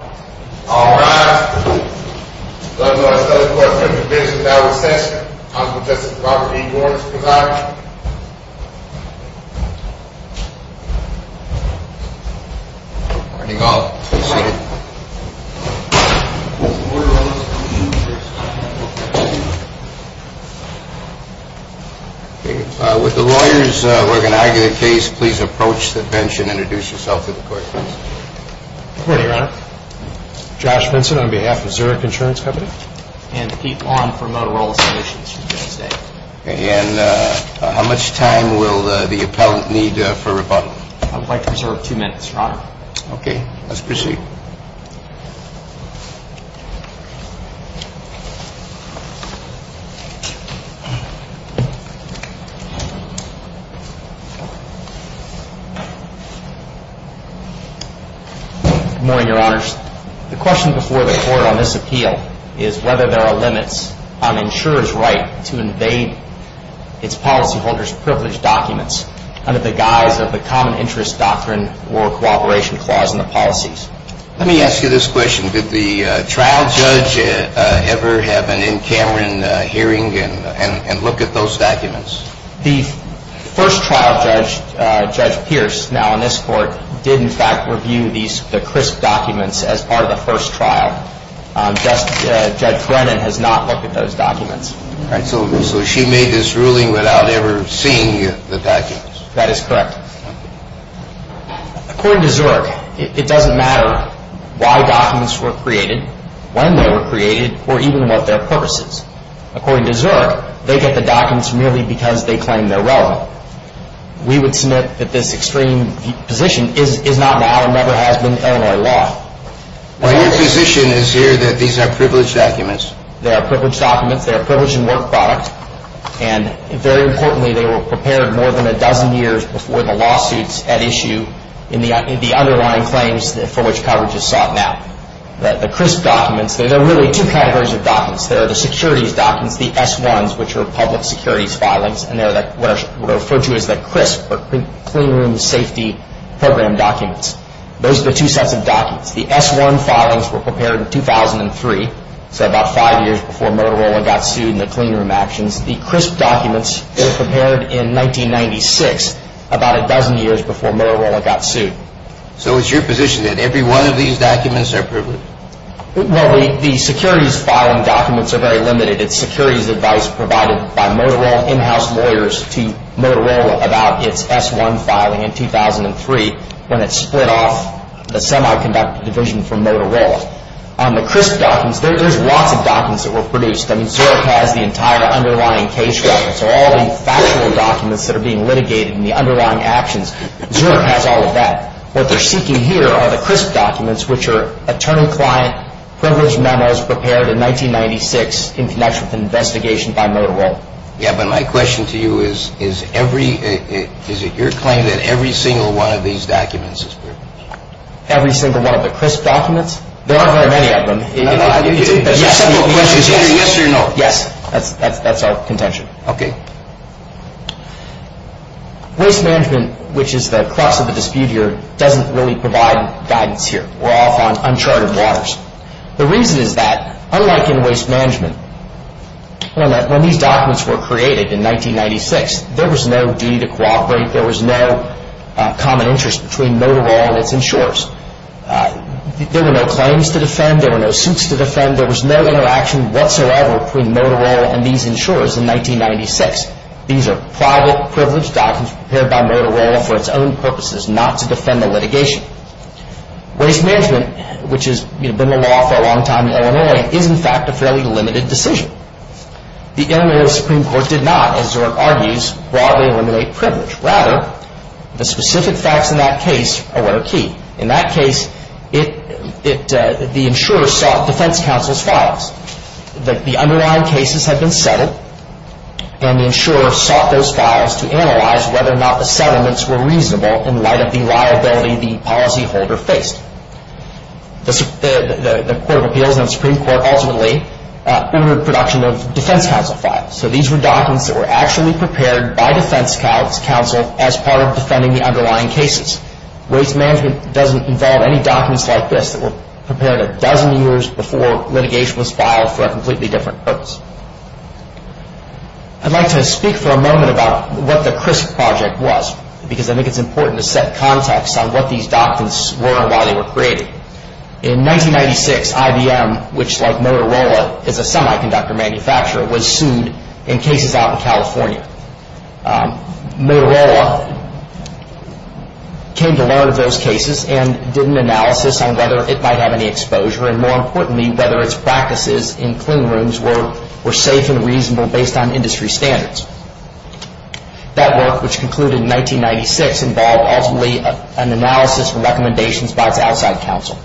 All rise. The court is now in session. Honorable Justice Robert E. Gorman, please rise. Good morning, all. Please be seated. With the lawyers, we're going to argue the case. Please approach the bench and introduce yourself to the court. Good morning, Your Honor. Josh Vincent on behalf of Zurich Insurance Company. And Pete Long from Motorola Solutions, she's going to say. And how much time will the appellant need for rebuttal? I would like to reserve two minutes, Your Honor. Okay. Let's proceed. Good morning, Your Honors. The question before the court on this appeal is whether there are limits on insurers' right to invade its policyholders' privileged documents under the guise of the Common Interest Doctrine or Cooperation Clause in the policies. Let me ask you this question. Did the trial judge ever have an N. Cameron hearing and look at those documents? The first trial judge, Judge Pierce, now in this court, did in fact review the crisp documents as part of the first trial. Judge Brennan has not looked at those documents. So she made this ruling without ever seeing the documents? That is correct. According to Zurich, it doesn't matter why documents were created, when they were created, or even what their purpose is. According to Zurich, they get the documents merely because they claim they're relevant. We would submit that this extreme position is not now and never has been in Illinois law. Your position is here that these are privileged documents? They are privileged documents. They are privileged in work product. And very importantly, they were prepared more than a dozen years before the lawsuits at issue in the underlying claims for which coverage is sought now. The crisp documents, there are really two categories of documents. There are the securities documents, the S-1s, which are public securities filings. And they're what are referred to as the crisp, or clean room safety program documents. Those are the two sets of documents. The S-1 filings were prepared in 2003, so about five years before Motorola got sued in the clean room actions. The crisp documents were prepared in 1996, about a dozen years before Motorola got sued. So it's your position that every one of these documents are privileged? Well, the securities filing documents are very limited. It's securities advice provided by Motorola in-house lawyers to Motorola about its S-1 filing in 2003, when it split off the semiconductor division from Motorola. The crisp documents, there's lots of documents that were produced. I mean, Zurich has the entire underlying case record. So all the factual documents that are being litigated in the underlying actions, Zurich has all of that. What they're seeking here are the crisp documents, which are attorney-client privilege memos prepared in 1996 in connection with an investigation by Motorola. Yeah, but my question to you is, is every, is it your claim that every single one of these documents is privileged? Every single one of the crisp documents? There aren't very many of them. Yes or no? Yes. That's our contention. Okay. Waste management, which is the crux of the dispute here, doesn't really provide guidance here. We're off on uncharted waters. The reason is that, unlike in waste management, when these documents were created in 1996, there was no duty to cooperate. There was no common interest between Motorola and its insurers. There were no claims to defend. There were no suits to defend. There was no interaction whatsoever between Motorola and these insurers in 1996. These are private privilege documents prepared by Motorola for its own purposes, not to defend the litigation. Waste management, which has been the law for a long time in Illinois, is in fact a fairly limited decision. The Illinois Supreme Court did not, as Zurich argues, broadly eliminate privilege. Rather, the specific facts in that case are what are key. In that case, the insurer sought defense counsel's files. The underlying cases had been settled, and the insurer sought those files to analyze whether or not the settlements were reasonable in light of the liability the policyholder faced. The Court of Appeals and the Supreme Court ultimately entered production of defense counsel files. So these were documents that were actually prepared by defense counsel as part of defending the underlying cases. Waste management doesn't involve any documents like this that were prepared a dozen years before litigation was filed for a completely different purpose. I'd like to speak for a moment about what the CRISP project was, because I think it's important to set context on what these documents were and why they were created. In 1996, IBM, which, like Motorola, is a semiconductor manufacturer, was sued in cases out in California. Motorola came to learn of those cases and did an analysis on whether it might have any exposure, and more importantly, whether its practices in clean rooms were safe and reasonable based on industry standards. That work, which concluded in 1996, involved ultimately an analysis and recommendations by its outside counsel.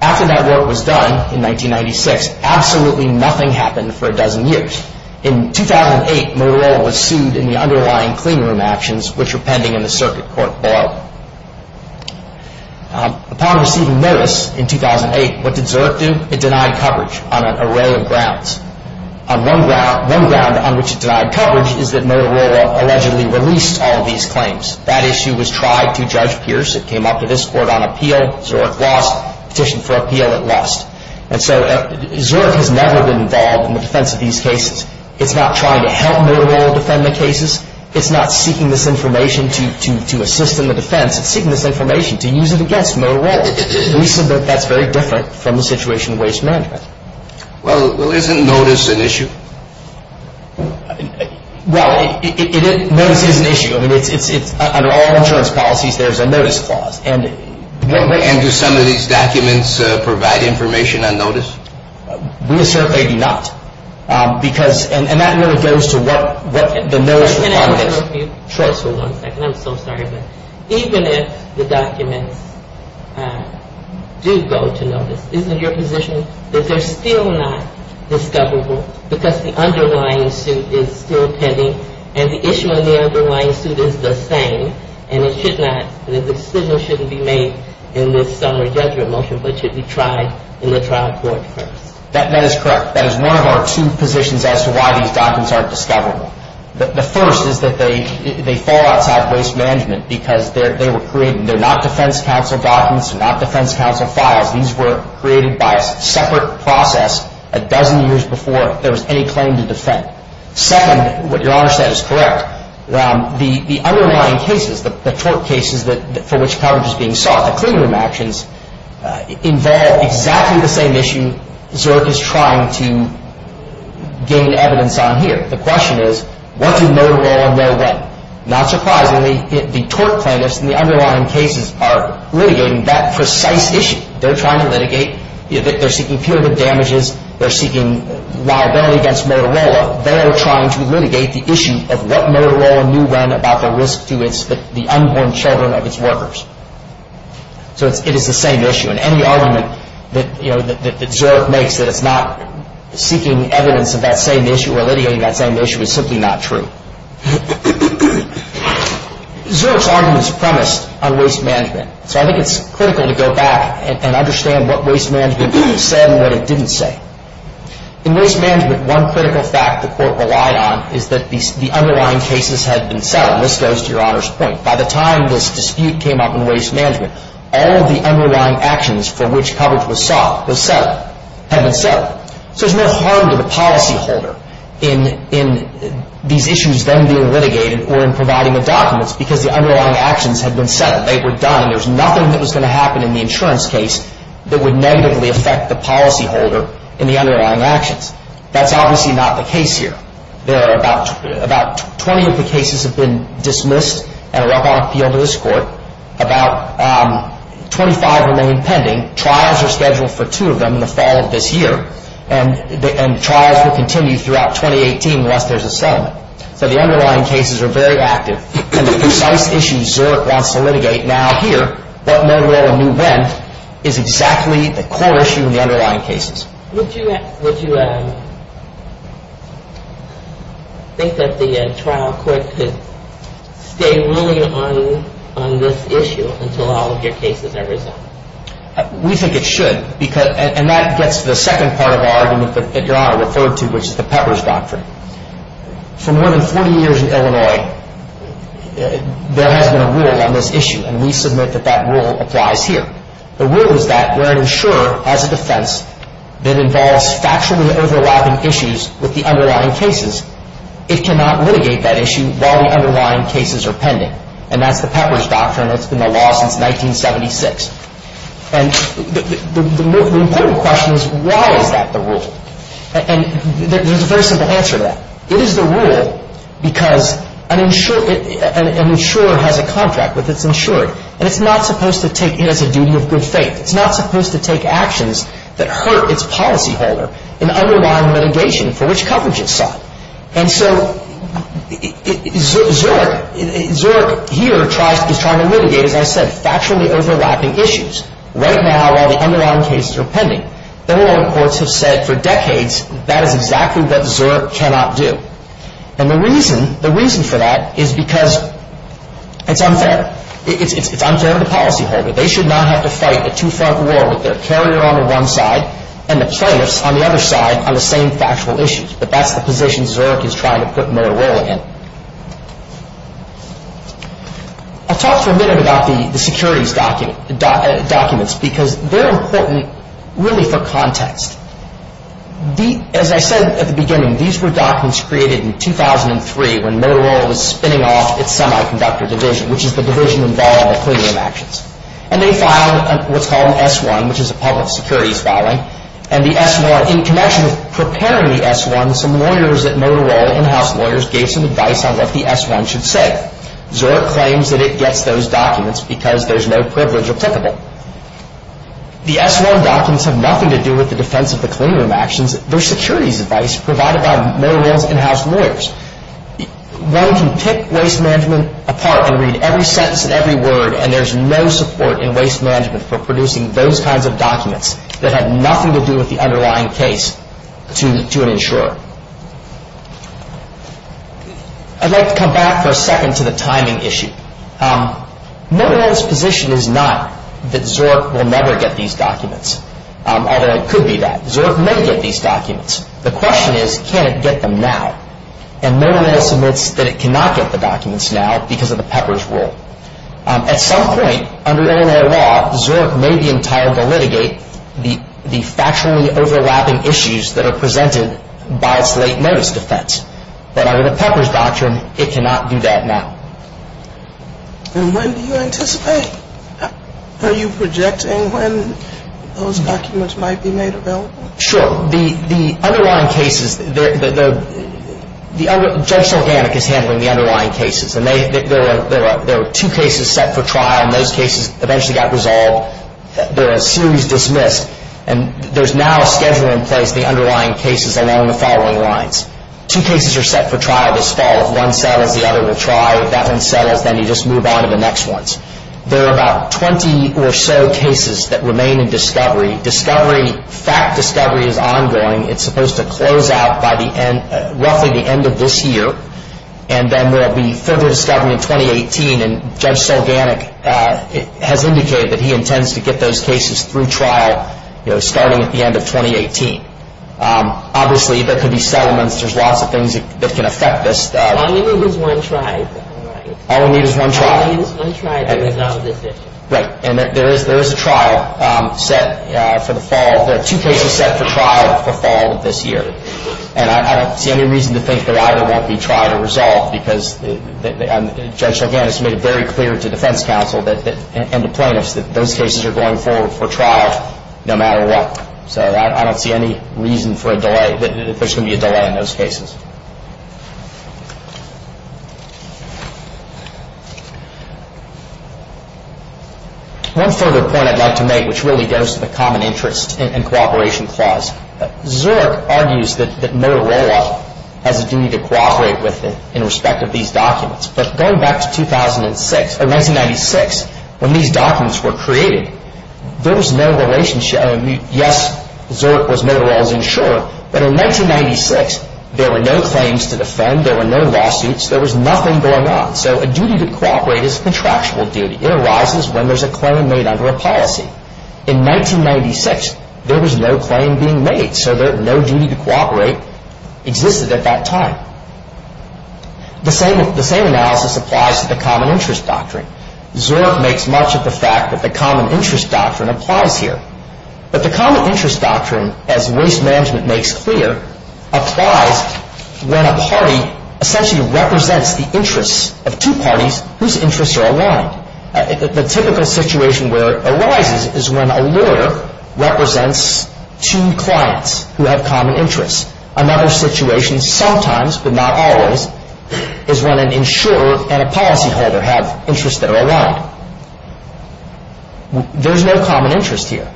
After that work was done in 1996, absolutely nothing happened for a dozen years. In 2008, Motorola was sued in the underlying clean room actions, which were pending in the circuit court below. Upon receiving notice in 2008, what did Zurich do? It denied coverage on an array of grounds. One ground on which it denied coverage is that Motorola allegedly released all these claims. That issue was tried to Judge Pierce. It came up to this Court on appeal. Zurich has never been involved in the defense of these cases. It's not trying to help Motorola defend the cases. It's not seeking this information to assist in the defense. It's seeking this information to use it against Motorola. We said that that's very different from the situation in waste management. Well, isn't notice an issue? Well, notice is an issue. Under all insurance policies, there's a notice clause. And do some of these documents provide information on notice? We assert they do not. And that really goes to what the notice requires. Can I ask you a few questions for one second? I'm so sorry. Even if the documents do go to notice, isn't your position that they're still not discoverable? Because the underlying suit is still pending, and the issue in the underlying suit is the same, and the decision shouldn't be made in this summary judgment motion, but should be tried in the trial court first. That is correct. That is one of our two positions as to why these documents aren't discoverable. The first is that they fall outside waste management because they're not defense counsel documents, they're not defense counsel files. These were created by a separate process a dozen years before there was any claim to defend. Second, what your Honor said is correct. The underlying cases, the tort cases for which coverage is being sought, the clean room actions, involve exactly the same issue Zurich is trying to gain evidence on here. The question is, what do Motorola know then? Not surprisingly, the tort plaintiffs in the underlying cases are litigating that precise issue. They're trying to litigate, they're seeking punitive damages, they're seeking liability against Motorola. They're trying to litigate the issue of what Motorola knew when about the risk to the unborn children of its workers. So it is the same issue, and any argument that Zurich makes that it's not seeking evidence of that same issue or litigating that same issue is simply not true. Zurich's argument is premised on waste management, so I think it's critical to go back and understand what waste management said and what it didn't say. In waste management, one critical fact the Court relied on is that the underlying cases had been settled, and this goes to your Honor's point. By the time this dispute came up in waste management, all of the underlying actions for which coverage was sought had been settled. So there's no harm to the policyholder in these issues then being litigated or in providing the documents because the underlying actions had been settled. They were done. There's nothing that was going to happen in the insurance case that would negatively affect the policyholder in the underlying actions. That's obviously not the case here. About 20 of the cases have been dismissed and are up on appeal to this Court. About 25 remain pending. Trials are scheduled for two of them in the fall of this year, and trials will continue throughout 2018 unless there's a settlement. So the underlying cases are very active, and the precise issue Zurich wants to litigate now here, but no longer when, is exactly the core issue in the underlying cases. Would you think that the trial court could stay willing on this issue until all of your cases are resolved? We think it should, and that gets to the second part of our argument that your Honor referred to, which is the Pepper's Doctrine. For more than 40 years in Illinois, there has been a rule on this issue, and we submit that that rule applies here. The rule is that where an insurer has a defense that involves factually overlapping issues with the underlying cases, it cannot litigate that issue while the underlying cases are pending, and that's the Pepper's Doctrine that's been the law since 1976. And the important question is why is that the rule? And there's a very simple answer to that. It is the rule because an insurer has a contract with its insurer, and it's not supposed to take it as a duty of good faith. It's not supposed to take actions that hurt its policyholder in underlying litigation for which coverage is sought. And so Zurich here is trying to litigate, as I said, factually overlapping issues right now while the underlying cases are pending. Illinois courts have said for decades that is exactly what Zurich cannot do. And the reason for that is because it's unfair. It's unfair to the policyholder. They should not have to fight a two-front war with their carrier on the one side and the plaintiffs on the other side on the same factual issues, but that's the position Zurich is trying to put their role in. I'll talk for a minute about the securities documents because they're important really for context. As I said at the beginning, these were documents created in 2003 when Motorola was spinning off its semiconductor division, which is the division involved in equilibrium actions. And they filed what's called an S-1, which is a public securities filing. And the S-1, in connection with preparing the S-1, some lawyers at Motorola, in-house lawyers, gave some advice on what the S-1 should say. Zurich claims that it gets those documents because there's no privilege applicable. The S-1 documents have nothing to do with the defense of the equilibrium actions. They're securities advice provided by Motorola's in-house lawyers. One can pick waste management apart and read every sentence and every word, and there's no support in waste management for producing those kinds of documents that have nothing to do with the underlying case to an insurer. I'd like to come back for a second to the timing issue. Motorola's position is not that Zurich will never get these documents, although it could be that. Zurich may get these documents. The question is, can it get them now? And Motorola submits that it cannot get the documents now because of the Pepper's rule. At some point, under Illinois law, Zurich may be entitled to litigate the factually overlapping issues that are presented by its late notice defense. But under the Pepper's doctrine, it cannot do that now. And when do you anticipate? Are you projecting when those documents might be made available? Sure. Well, the underlying cases, Judge Selganic is handling the underlying cases, and there are two cases set for trial, and those cases eventually got resolved. They're a series dismissed, and there's now a schedule in place, the underlying cases along the following lines. Two cases are set for trial this fall. If one settles, the other will try. If that one settles, then you just move on to the next ones. There are about 20 or so cases that remain in discovery. Fact discovery is ongoing. It's supposed to close out by roughly the end of this year, and then there will be further discovery in 2018, and Judge Selganic has indicated that he intends to get those cases through trial starting at the end of 2018. Obviously, there could be settlements. There's lots of things that can affect this. All you need is one trial. All we need is one trial. All you need is one trial to resolve this issue. Right, and there is a trial set for the fall. There are two cases set for trial for fall of this year, and I don't see any reason to think that either won't be tried or resolved because Judge Selganic has made it very clear to defense counsel and to plaintiffs that those cases are going forward for trial no matter what. So I don't see any reason for a delay, that there's going to be a delay in those cases. One further point I'd like to make, which really goes to the Common Interest and Cooperation Clause. Zork argues that Motorola has a duty to cooperate with it in respect of these documents, but going back to 1996, when these documents were created, there was no relationship. Yes, Zork was Motorola's insurer, but in 1996, there were no claims to defend. There were no lawsuits. There was nothing going on. So a duty to cooperate is a contractual duty. It arises when there's a claim made under a policy. In 1996, there was no claim being made, so no duty to cooperate existed at that time. The same analysis applies to the Common Interest Doctrine. Zork makes much of the fact that the Common Interest Doctrine applies here. But the Common Interest Doctrine, as Waste Management makes clear, applies when a party essentially represents the interests of two parties whose interests are aligned. The typical situation where it arises is when a lawyer represents two clients who have common interests. Another situation, sometimes but not always, is when an insurer and a policyholder have interests that are aligned. There's no common interest here.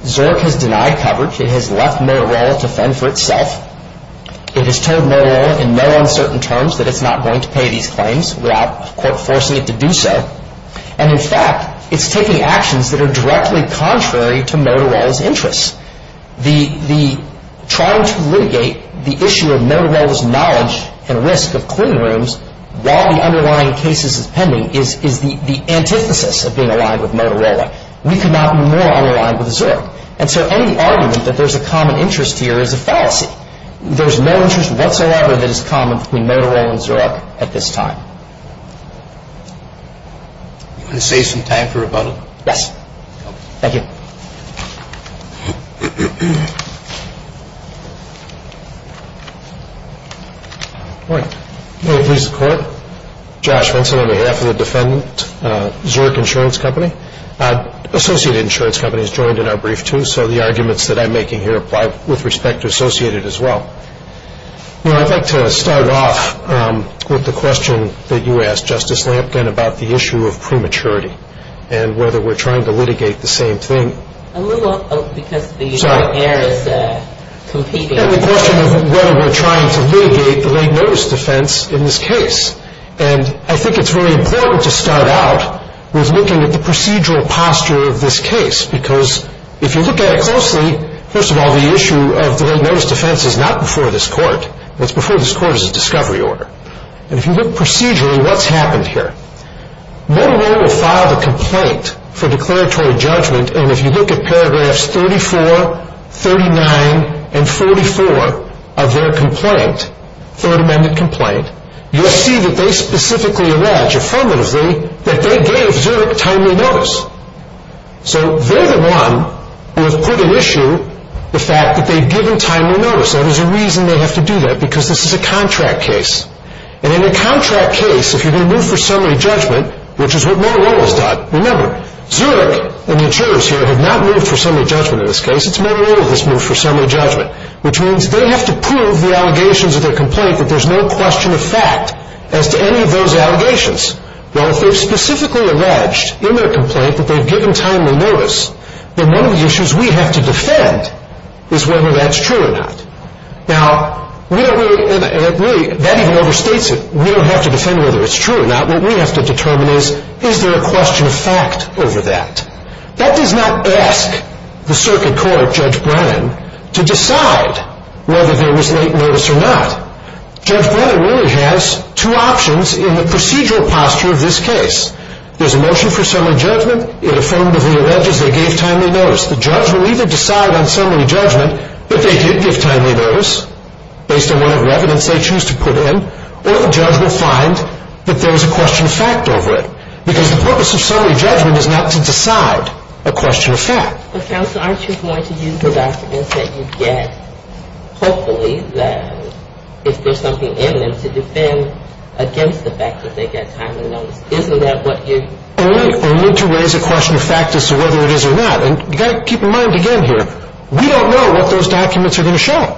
Zork has denied coverage. It has left Motorola to fend for itself. It has told Motorola in no uncertain terms that it's not going to pay these claims without, quote, forcing it to do so. And, in fact, it's taking actions that are directly contrary to Motorola's interests. The trying to litigate the issue of Motorola's knowledge and risk of clean rooms while the underlying case is pending is the antithesis of being aligned with Motorola. We could not be more unaligned with Zork. And so any argument that there's a common interest here is a fallacy. There's no interest whatsoever that is common between Motorola and Zork at this time. You want to save some time for rebuttal? Yes. Thank you. Good morning. May it please the Court. Josh Wentzel on behalf of the defendant, Zork Insurance Company. Associated insurance companies joined in our brief, too, so the arguments that I'm making here apply with respect to Associated as well. I'd like to start off with the question that you asked, Justice Lampkin, about the issue of prematurity and whether we're trying to litigate the same thing. A little because the air is competing. The question of whether we're trying to litigate the late notice defense in this case. And I think it's very important to start out with looking at the procedural posture of this case because if you look at it closely, first of all, the issue of the late notice defense is not before this Court. What's before this Court is a discovery order. And if you look procedurally, what's happened here? Motorola filed a complaint for declaratory judgment, and if you look at paragraphs 34, 39, and 44 of their complaint, Third Amendment complaint, you'll see that they specifically allege, affirmatively, that they gave Zurich timely notice. So they're the one who have put at issue the fact that they've given timely notice. That is a reason they have to do that because this is a contract case. And in a contract case, if you're going to move for summary judgment, which is what Motorola has done, remember, Zurich and the insurers here have not moved for summary judgment in this case. It's Motorola who has moved for summary judgment, which means they have to prove the allegations of their complaint that there's no question of fact as to any of those allegations. Well, if they've specifically alleged in their complaint that they've given timely notice, then one of the issues we have to defend is whether that's true or not. Now, we don't really, and really, that even overstates it. We don't have to defend whether it's true or not. What we have to determine is, is there a question of fact over that? That does not ask the circuit court, Judge Brennan, to decide whether there was late notice or not. Judge Brennan really has two options in the procedural posture of this case. There's a motion for summary judgment. It affirmatively alleges they gave timely notice. The judge will either decide on summary judgment that they did give timely notice, based on whatever evidence they choose to put in, or the judge will find that there is a question of fact over it. Because the purpose of summary judgment is not to decide a question of fact. But, counsel, aren't you going to use the documents that you get, hopefully, if there's something in them, to defend against the fact that they got timely notice? Isn't that what you're doing? Only to raise a question of fact as to whether it is or not. And you've got to keep in mind, again, here, we don't know what those documents are going to show.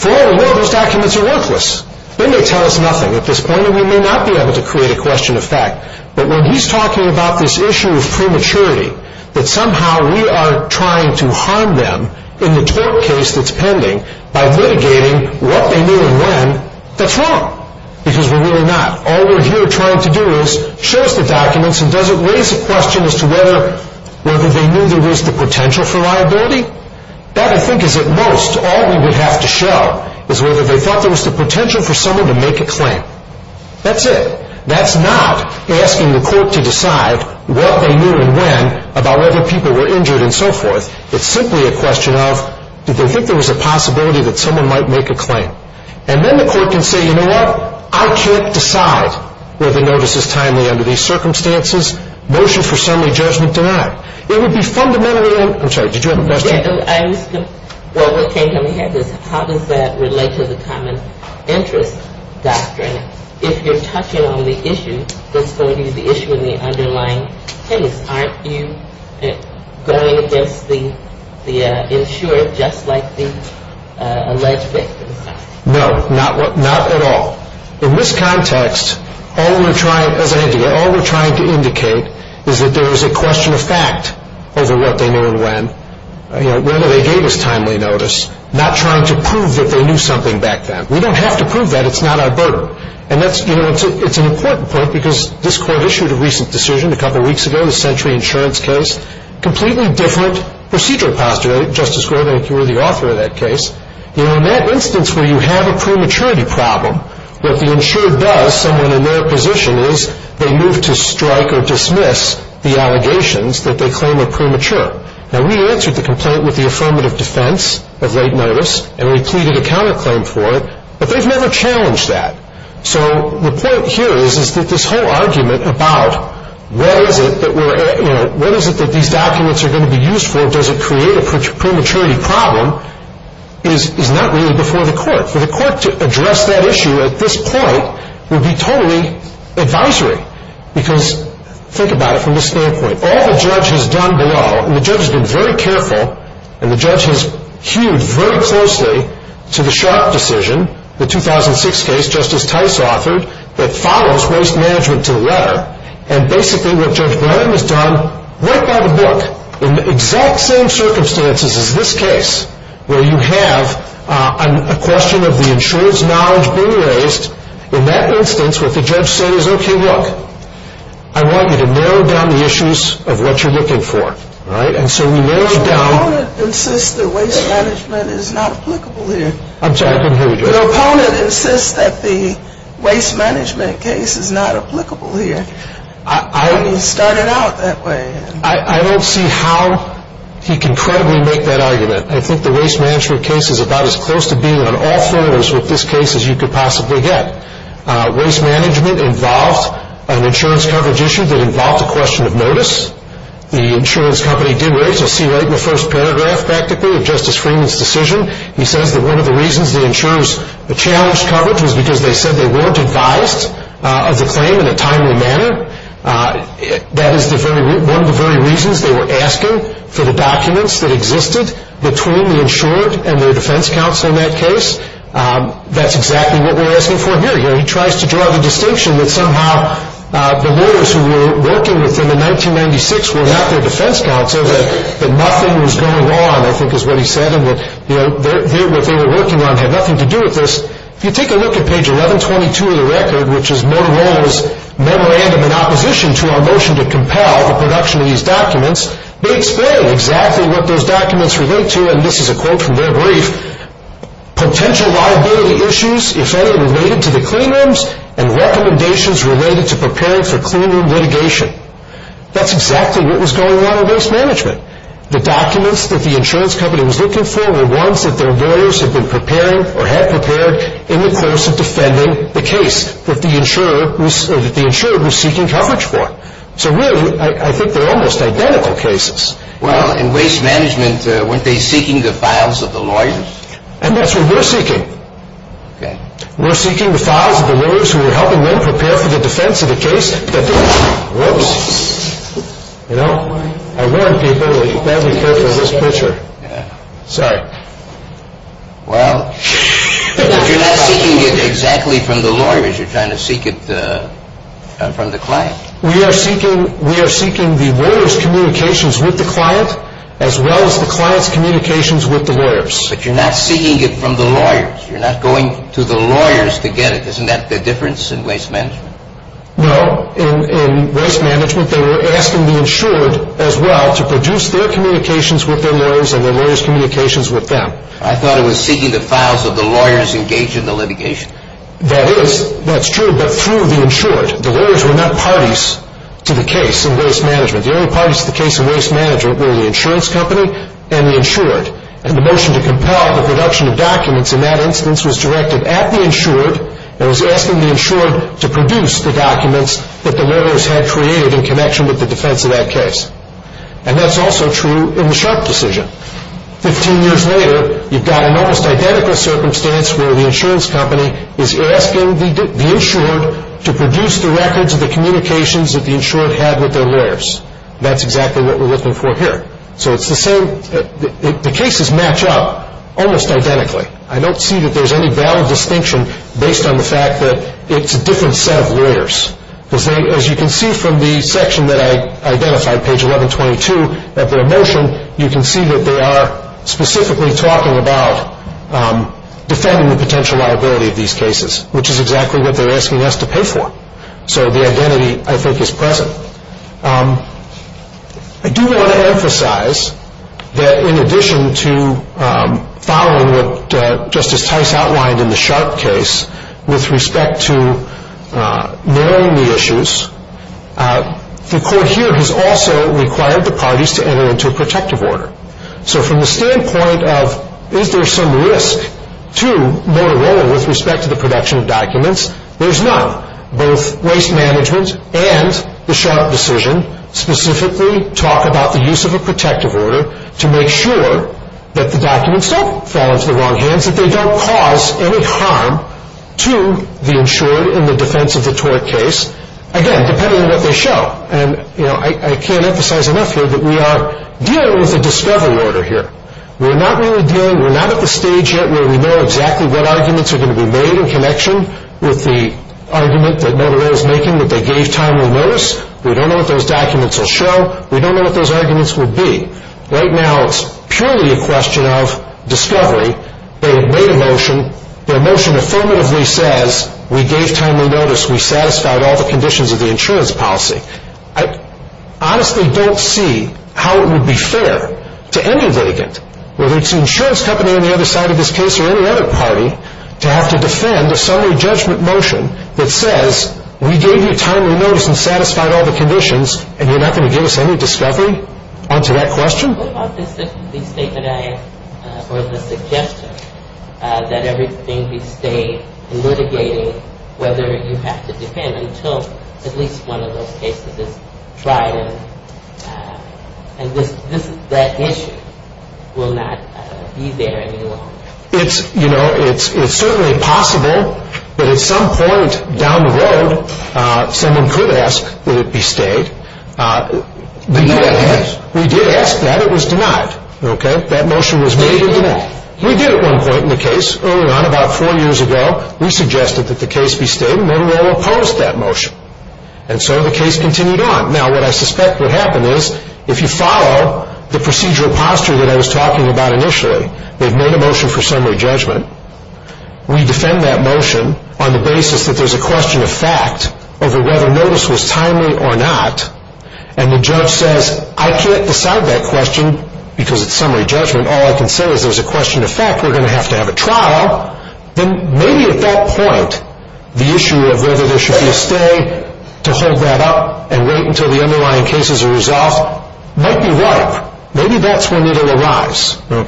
For all we know, those documents are worthless. They may tell us nothing at this point, and we may not be able to create a question of fact. But when he's talking about this issue of prematurity, that somehow we are trying to harm them in the tort case that's pending, by litigating what they knew and when, that's wrong. Because we're really not. All we're here trying to do is show us the documents, and does it raise a question as to whether they knew there was the potential for liability? That, I think, is at most all we would have to show, is whether they thought there was the potential for someone to make a claim. That's it. That's not asking the court to decide what they knew and when about whether people were injured and so forth. It's simply a question of, did they think there was a possibility that someone might make a claim? And then the court can say, you know what? I can't decide whether the notice is timely under these circumstances. Motion for summary judgment denied. It would be fundamentally, I'm sorry, did you have a question? Yeah, I was going to, well, what came to my head is, how does that relate to the common interest doctrine? If you're touching on the issue, that's going to be the issue in the underlying case. Aren't you going against the insured, just like the alleged victims? No, not at all. In this context, all we're trying to indicate is that there is a question of fact over what they knew and when. Whether they gave us timely notice, not trying to prove that they knew something back then. We don't have to prove that. It's not our burden. And that's, you know, it's an important point because this court issued a recent decision a couple weeks ago, the Century Insurance case, completely different procedural posture. Justice Graybank, you were the author of that case. You know, in that instance where you have a prematurity problem, what the insured does, someone in their position is, they move to strike or dismiss the allegations that they claim are premature. Now, we answered the complaint with the affirmative defense of late notice and we pleaded a counterclaim for it, but they've never challenged that. So the point here is that this whole argument about what is it that these documents are going to be used for, does it create a prematurity problem, is not really before the court. For the court to address that issue at this point would be totally advisory because think about it from this standpoint. All the judge has done below, and the judge has been very careful, and the judge has hewed very closely to the Sharp decision, the 2006 case Justice Tice authored, that follows waste management to the letter. And basically what Judge Graybank has done, right by the book, in the exact same circumstances as this case, where you have a question of the insurance knowledge being raised, in that instance what the judge says is, okay, look, I want you to narrow down the issues of what you're looking for. Right? And so we narrowed down... The opponent insists that waste management is not applicable here. I'm sorry, I didn't hear you. The opponent insists that the waste management case is not applicable here. I... And he started out that way. I don't see how he can credibly make that argument. I think the waste management case is about as close to being on all fours with this case as you could possibly get. Waste management involved an insurance coverage issue that involved a question of notice. The insurance company did raise a C-rate in the first paragraph, practically, of Justice Freeman's decision. He says that one of the reasons the insurers challenged coverage was because they said they weren't advised of the claim in a timely manner. That is one of the very reasons they were asking for the documents that existed between the insured and their defense counsel in that case. That's exactly what we're asking for here. He tries to draw the distinction that somehow the lawyers who were working with him in 1996 were not their defense counsel, that nothing was going on, I think is what he said, and that what they were working on had nothing to do with this. If you take a look at page 1122 of the record, which is Motorola's memorandum in opposition to our motion to compel the production of these documents, they explain exactly what those documents relate to. And this is a quote from their brief. Potential liability issues, if any, related to the cleanrooms and recommendations related to preparing for cleanroom litigation. That's exactly what was going on in Waste Management. The documents that the insurance company was looking for were ones that their lawyers had been preparing or had prepared in the course of defending the case that the insurer was seeking coverage for. So really, I think they're almost identical cases. Well, in Waste Management, weren't they seeking the files of the lawyers? And that's what we're seeking. We're seeking the files of the lawyers who were helping them prepare for the defense of the case. Whoops. You know, I warned people that you'd better be careful of this picture. Sorry. Well, you're not seeking it exactly from the lawyers. You're trying to seek it from the client. We are seeking the lawyers' communications with the client as well as the client's communications with the lawyers. But you're not seeking it from the lawyers. You're not going to the lawyers to get it. Isn't that the difference in Waste Management? No. In Waste Management, they were asking the insured as well to produce their communications with their lawyers and their lawyers' communications with them. I thought it was seeking the files of the lawyers engaged in the litigation. That is. That's true, but through the insured. The lawyers were not parties to the case in Waste Management. The only parties to the case in Waste Management were the insurance company and the insured. And the motion to compel the production of documents in that instance was directed at the insured and was asking the insured to produce the documents that the lawyers had created in connection with the defense of that case. And that's also true in the Sharp decision. Fifteen years later, you've got an almost identical circumstance where the insurance company is asking the insured to produce the records of the communications that the insured had with their lawyers. That's exactly what we're looking for here. So it's the same. The cases match up almost identically. I don't see that there's any valid distinction based on the fact that it's a different set of lawyers. As you can see from the section that I identified, page 1122, at their motion, you can see that they are specifically talking about defending the potential liability of these cases, which is exactly what they're asking us to pay for. So the identity, I think, is present. I do want to emphasize that in addition to following what Justice Tice outlined in the Sharp case with respect to narrowing the issues, the court here has also required the parties to enter into a protective order. So from the standpoint of is there some risk to Motorola with respect to the production of documents, there's none. Both Waste Management and the Sharp decision specifically talk about the use of a protective order to make sure that the documents don't fall into the wrong hands, that they don't cause any harm to the insured in the defense of the tort case, again, depending on what they show. I can't emphasize enough here that we are dealing with a discovery order here. We're not at the stage yet where we know exactly what arguments are going to be made in connection with the argument that Motorola is making that they gave timely notice. We don't know what those documents will show. We don't know what those arguments will be. Right now, it's purely a question of discovery. They made a motion. Their motion affirmatively says, we gave timely notice. We satisfied all the conditions of the insurance policy. I honestly don't see how it would be fair to any litigant, whether it's an insurance company on the other side of this case or any other party, to have to defend a summary judgment motion that says, we gave you timely notice and satisfied all the conditions, and you're not going to give us any discovery on to that question? What about the statement or the suggestion that everything be stayed and litigating whether you have to defend until at least one of those cases is tried and that issue will not be there any longer? It's certainly possible, but at some point down the road, someone could ask, would it be stayed? The U.S. has. We did ask that. It was denied. That motion was made and denied. We did at one point in the case, early on, about four years ago. We suggested that the case be stayed, and then we all opposed that motion. And so the case continued on. Now, what I suspect would happen is, if you follow the procedural posture that I was talking about initially, they've made a motion for summary judgment. We defend that motion on the basis that there's a question of fact over whether notice was timely or not, and the judge says, I can't decide that question because it's summary judgment. All I can say is there's a question of fact. We're going to have to have a trial. Then maybe at that point, the issue of whether there should be a stay to hold that up and wait until the underlying cases are resolved might be ripe. Maybe that's when it will arise. But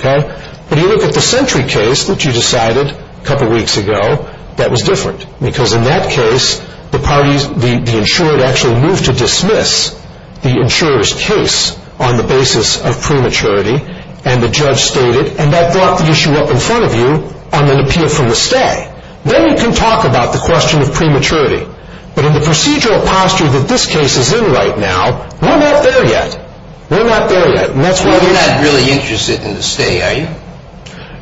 if you look at the Sentry case that you decided a couple weeks ago, that was different, because in that case, the insured actually moved to dismiss the insurer's case on the basis of prematurity, and the judge stated, and I brought the issue up in front of you, I'm going to appeal for the stay. Then you can talk about the question of prematurity. But in the procedural posture that this case is in right now, we're not there yet. We're not there yet. So you're not really interested in the stay, are you?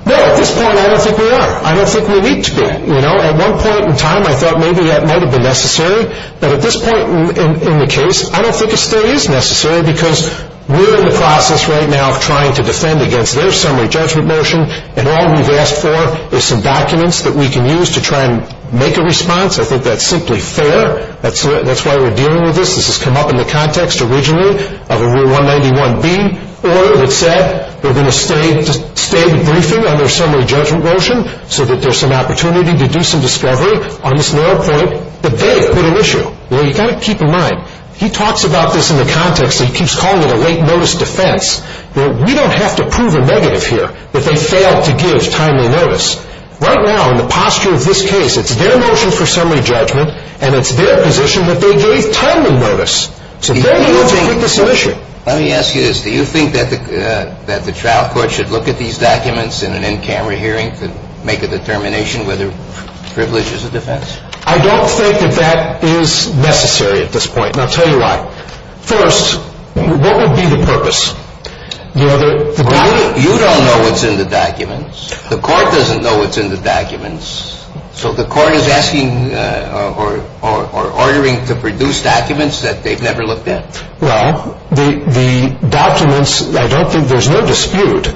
No, at this point, I don't think we are. I don't think we need to be. At one point in time, I thought maybe that might have been necessary. But at this point in the case, I don't think a stay is necessary because we're in the process right now of trying to defend against their summary judgment motion, and all we've asked for is some documents that we can use to try and make a response. I think that's simply fair. That's why we're dealing with this. This has come up in the context originally of a Rule 191B order that said they're going to stay the briefing on their summary judgment motion so that there's some opportunity to do some discovery on this narrow point, but they've put an issue. You've got to keep in mind, he talks about this in the context that he keeps calling it a late-notice defense. We don't have to prove a negative here that they failed to give timely notice. Right now, in the posture of this case, it's their motion for summary judgment, and it's their position that they gave timely notice. Let me ask you this. Do you think that the trial court should look at these documents in an in-camera hearing to make a determination whether privilege is a defense? I don't think that that is necessary at this point, and I'll tell you why. First, what would be the purpose? You don't know what's in the documents. The court doesn't know what's in the documents. So the court is asking or ordering to produce documents that they've never looked at? Well, the documents, I don't think there's no dispute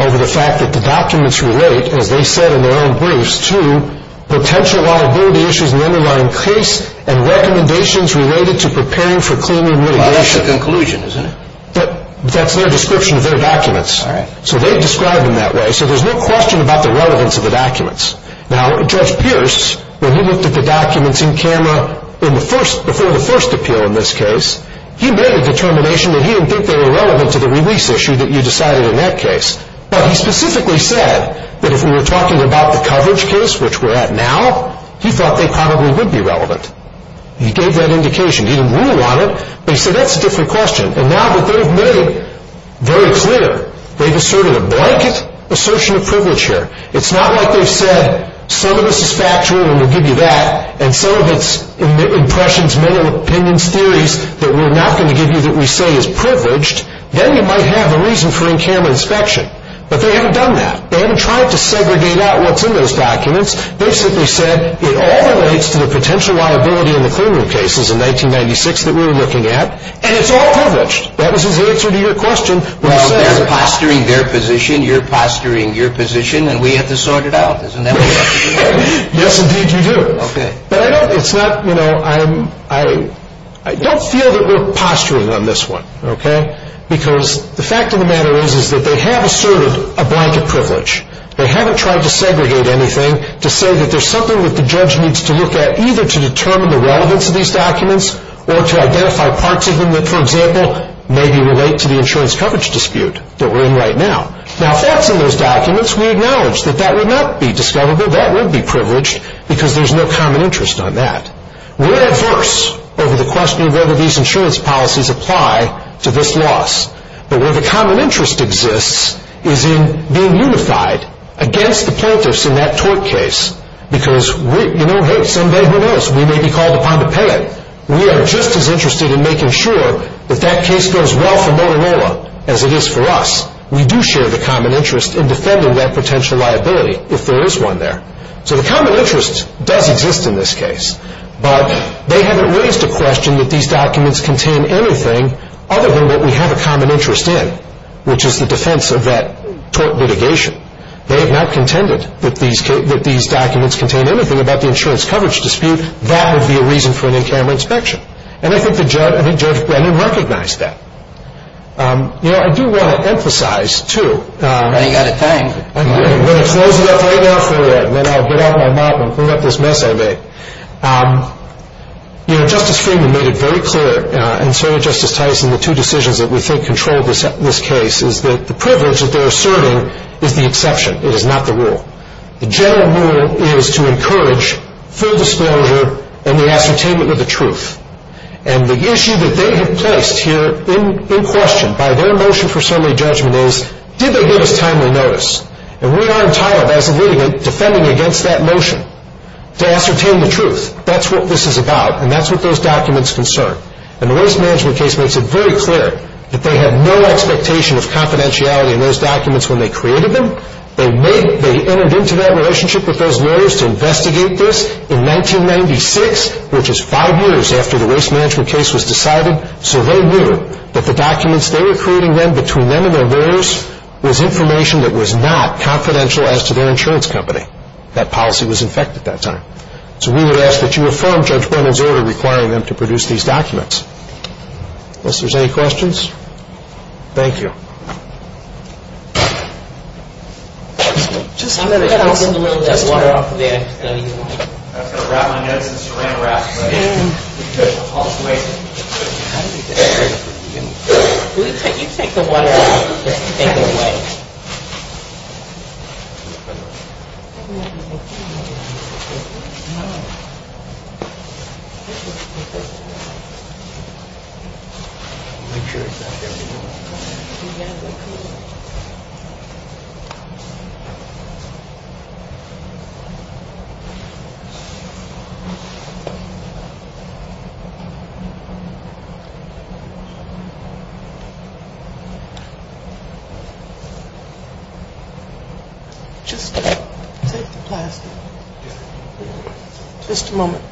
over the fact that the documents relate, as they said in their own briefs, to potential liability issues in the underlying case and recommendations related to preparing for claimant litigation. Well, that's the conclusion, isn't it? That's their description of their documents. All right. So they've described them that way. So there's no question about the relevance of the documents. Now, Judge Pierce, when he looked at the documents in camera before the first appeal in this case, he made a determination that he didn't think they were relevant to the release issue that you decided in that case. But he specifically said that if we were talking about the coverage case, which we're at now, he thought they probably would be relevant. He gave that indication. He didn't rule on it, but he said that's a different question. And now that they've made it very clear, they've asserted a blanket assertion of privilege here. It's not like they've said some of this is factual and we'll give you that and some of it's impressions, mental opinions, theories that we're not going to give you that we say is privileged. Then you might have a reason for in-camera inspection. But they haven't done that. They haven't tried to segregate out what's in those documents. They've simply said it all relates to the potential liability in the claimant cases in 1996 that we were looking at, and it's all privileged. That was his answer to your question. Well, they're posturing their position. You're posturing your position, and we have to sort it out. Isn't that what you're saying? Yes, indeed you do. Okay. But I don't feel that we're posturing on this one, okay? Because the fact of the matter is that they have asserted a blanket privilege. They haven't tried to segregate anything to say that there's something that the judge needs to look at either to determine the relevance of these documents or to identify parts of them that, for example, maybe relate to the insurance coverage dispute that we're in right now. Now, if that's in those documents, we acknowledge that that would not be discoverable. That would be privileged because there's no common interest on that. We're adverse over the question of whether these insurance policies apply to this loss. But where the common interest exists is in being unified against the plaintiffs in that tort case because, you know, hey, someday who knows, we may be called upon to pay it. We are just as interested in making sure that that case goes well for Motorola as it is for us. We do share the common interest in defending that potential liability if there is one there. So the common interest does exist in this case, but they haven't raised a question that these documents contain anything other than what we have a common interest in, which is the defense of that tort litigation. They have not contended that these documents contain anything about the insurance coverage dispute. That would be a reason for an in-camera inspection. And I think Judge Brennan recognized that. You know, I do want to emphasize, too. You've got to thank me. I'm going to close it up right now for a minute, and then I'll get out my mop and clean up this mess I made. You know, Justice Freeman made it very clear, and so did Justice Tyson, the two decisions that we think control this case is that the privilege that they are serving is the exception. It is not the rule. The general rule is to encourage full disclosure and the ascertainment of the truth. And the issue that they have placed here in question by their motion for summary judgment is, did they give us timely notice? And we are entitled, as a litigant, defending against that motion to ascertain the truth. That's what this is about, and that's what those documents concern. And the Waste Management case makes it very clear that they had no expectation of confidentiality in those documents when they created them. They entered into that relationship with those lawyers to investigate this in 1996, which is five years after the Waste Management case was decided, so they knew that the documents they were creating then between them and their lawyers was information that was not confidential as to their insurance company. That policy was in effect at that time. So we would ask that you affirm Judge Brendan's order requiring them to produce these documents. Unless there's any questions? Thank you. No. Just take the plastic. Just a moment.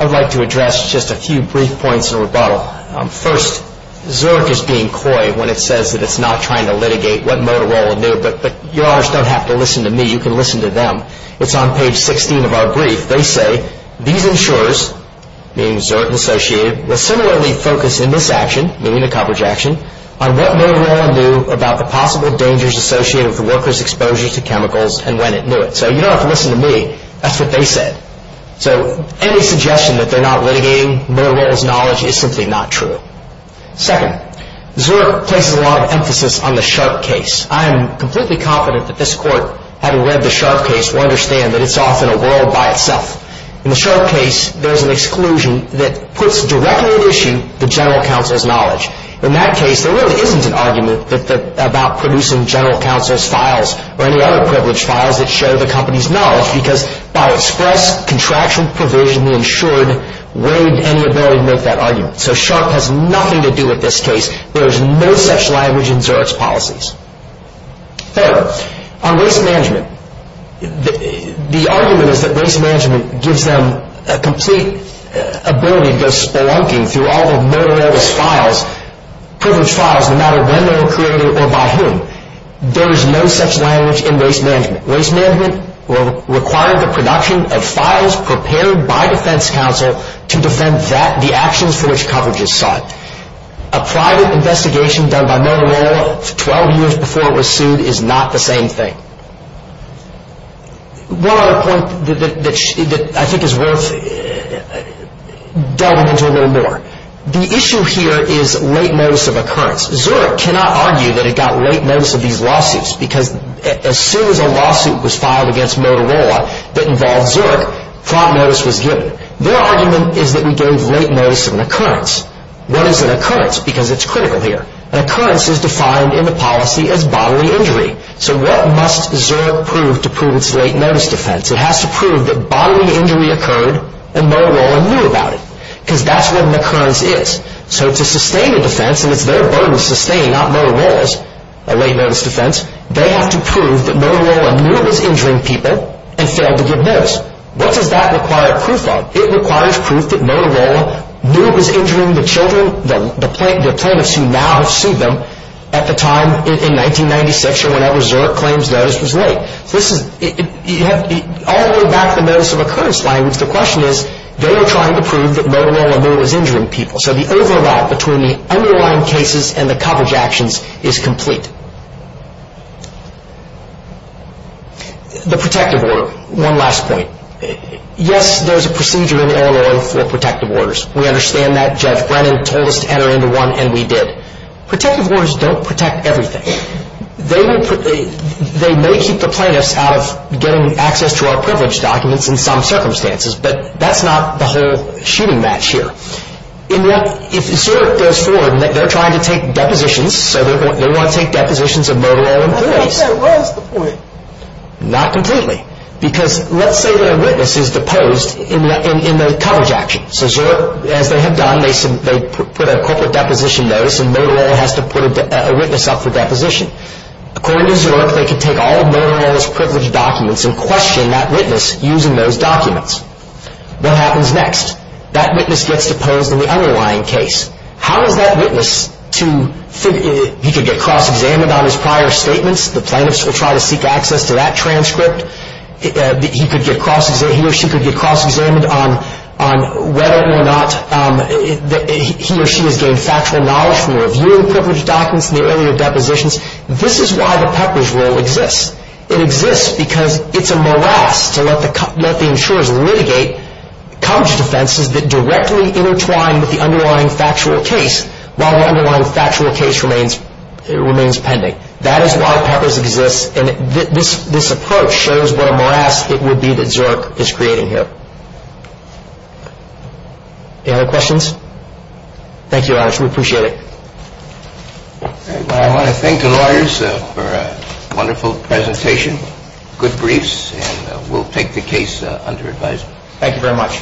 I'd like to address just a few brief points in rebuttal. First, Zerk is being coy when it says that it's not trying to litigate what Motorola knew, but Your Honors don't have to listen to me. You can listen to them. It's on page 16 of our brief. These insurers, meaning Zerk and Associated, will similarly focus in this action, meaning the coverage action, on what Motorola knew about the possible dangers associated with workers' exposure to chemicals and when it knew it. So you don't have to listen to me. That's what they said. So any suggestion that they're not litigating Motorola's knowledge is simply not true. Second, Zerk places a lot of emphasis on the Sharp case. I am completely confident that this Court, having read the Sharp case, will understand that it's often a world by itself. In the Sharp case, there's an exclusion that puts directly at issue the general counsel's knowledge. In that case, there really isn't an argument about producing general counsel's files or any other privileged files that show the company's knowledge because by express contractual provision, the insured waived any ability to make that argument. So Sharp has nothing to do with this case. There is no such language in Zerk's policies. Third, on race management, the argument is that race management gives them a complete ability to go spelunking through all of Motorola's files, privileged files, no matter when they were created or by whom. There is no such language in race management. Race management will require the production of files prepared by defense counsel to defend that, the actions for which coverage is sought. A private investigation done by Motorola 12 years before it was sued is not the same thing. One other point that I think is worth delving into a little more. The issue here is late notice of occurrence. Zerk cannot argue that it got late notice of these lawsuits because as soon as a lawsuit was filed against Motorola that involved Zerk, prompt notice was given. What is an occurrence? Because it's critical here. An occurrence is defined in the policy as bodily injury. So what must Zerk prove to prove its late notice defense? It has to prove that bodily injury occurred and Motorola knew about it. Because that's what an occurrence is. So to sustain a defense, and it's their burden to sustain, not Motorola's, a late notice defense, they have to prove that Motorola knew it was injuring people and failed to give notice. What does that require proof of? It requires proof that Motorola knew it was injuring the children, the plaintiffs who now sued them, at the time in 1996 or whenever Zerk claims that it was late. All the way back to the notice of occurrence language, the question is, they are trying to prove that Motorola knew it was injuring people. So the overlap between the underlying cases and the coverage actions is complete. The protective order. One last point. Yes, there's a procedure in air law for protective orders. We understand that. Judge Brennan told us to enter into one, and we did. Protective orders don't protect everything. They may keep the plaintiffs out of getting access to our privilege documents in some circumstances, but that's not the whole shooting match here. If Zerk goes forward, they're trying to take depositions, so they want to take depositions of Motorola in the police. I thought that was the point. Not completely. Because let's say that a witness is deposed in the coverage action. So Zerk, as they have done, they put a corporate deposition notice, and Motorola has to put a witness up for deposition. According to Zerk, they could take all of Motorola's privilege documents and question that witness using those documents. What happens next? That witness gets deposed in the underlying case. How does that witness, he could get cross-examined on his prior statements, the plaintiffs will try to seek access to that transcript. He or she could get cross-examined on whether or not he or she has gained factual knowledge from reviewing privilege documents in the earlier depositions. This is why the Pepper's Rule exists. It exists because it's a morass to let the insurers litigate coverage offenses that directly intertwine with the underlying factual case, while the underlying factual case remains pending. That is why Pepper's exists, and this approach shows what a morass it would be that Zerk is creating here. Any other questions? Thank you, Your Honor. We appreciate it. I want to thank the lawyers for a wonderful presentation, good briefs, and we'll take the case under advisement. Thank you very much.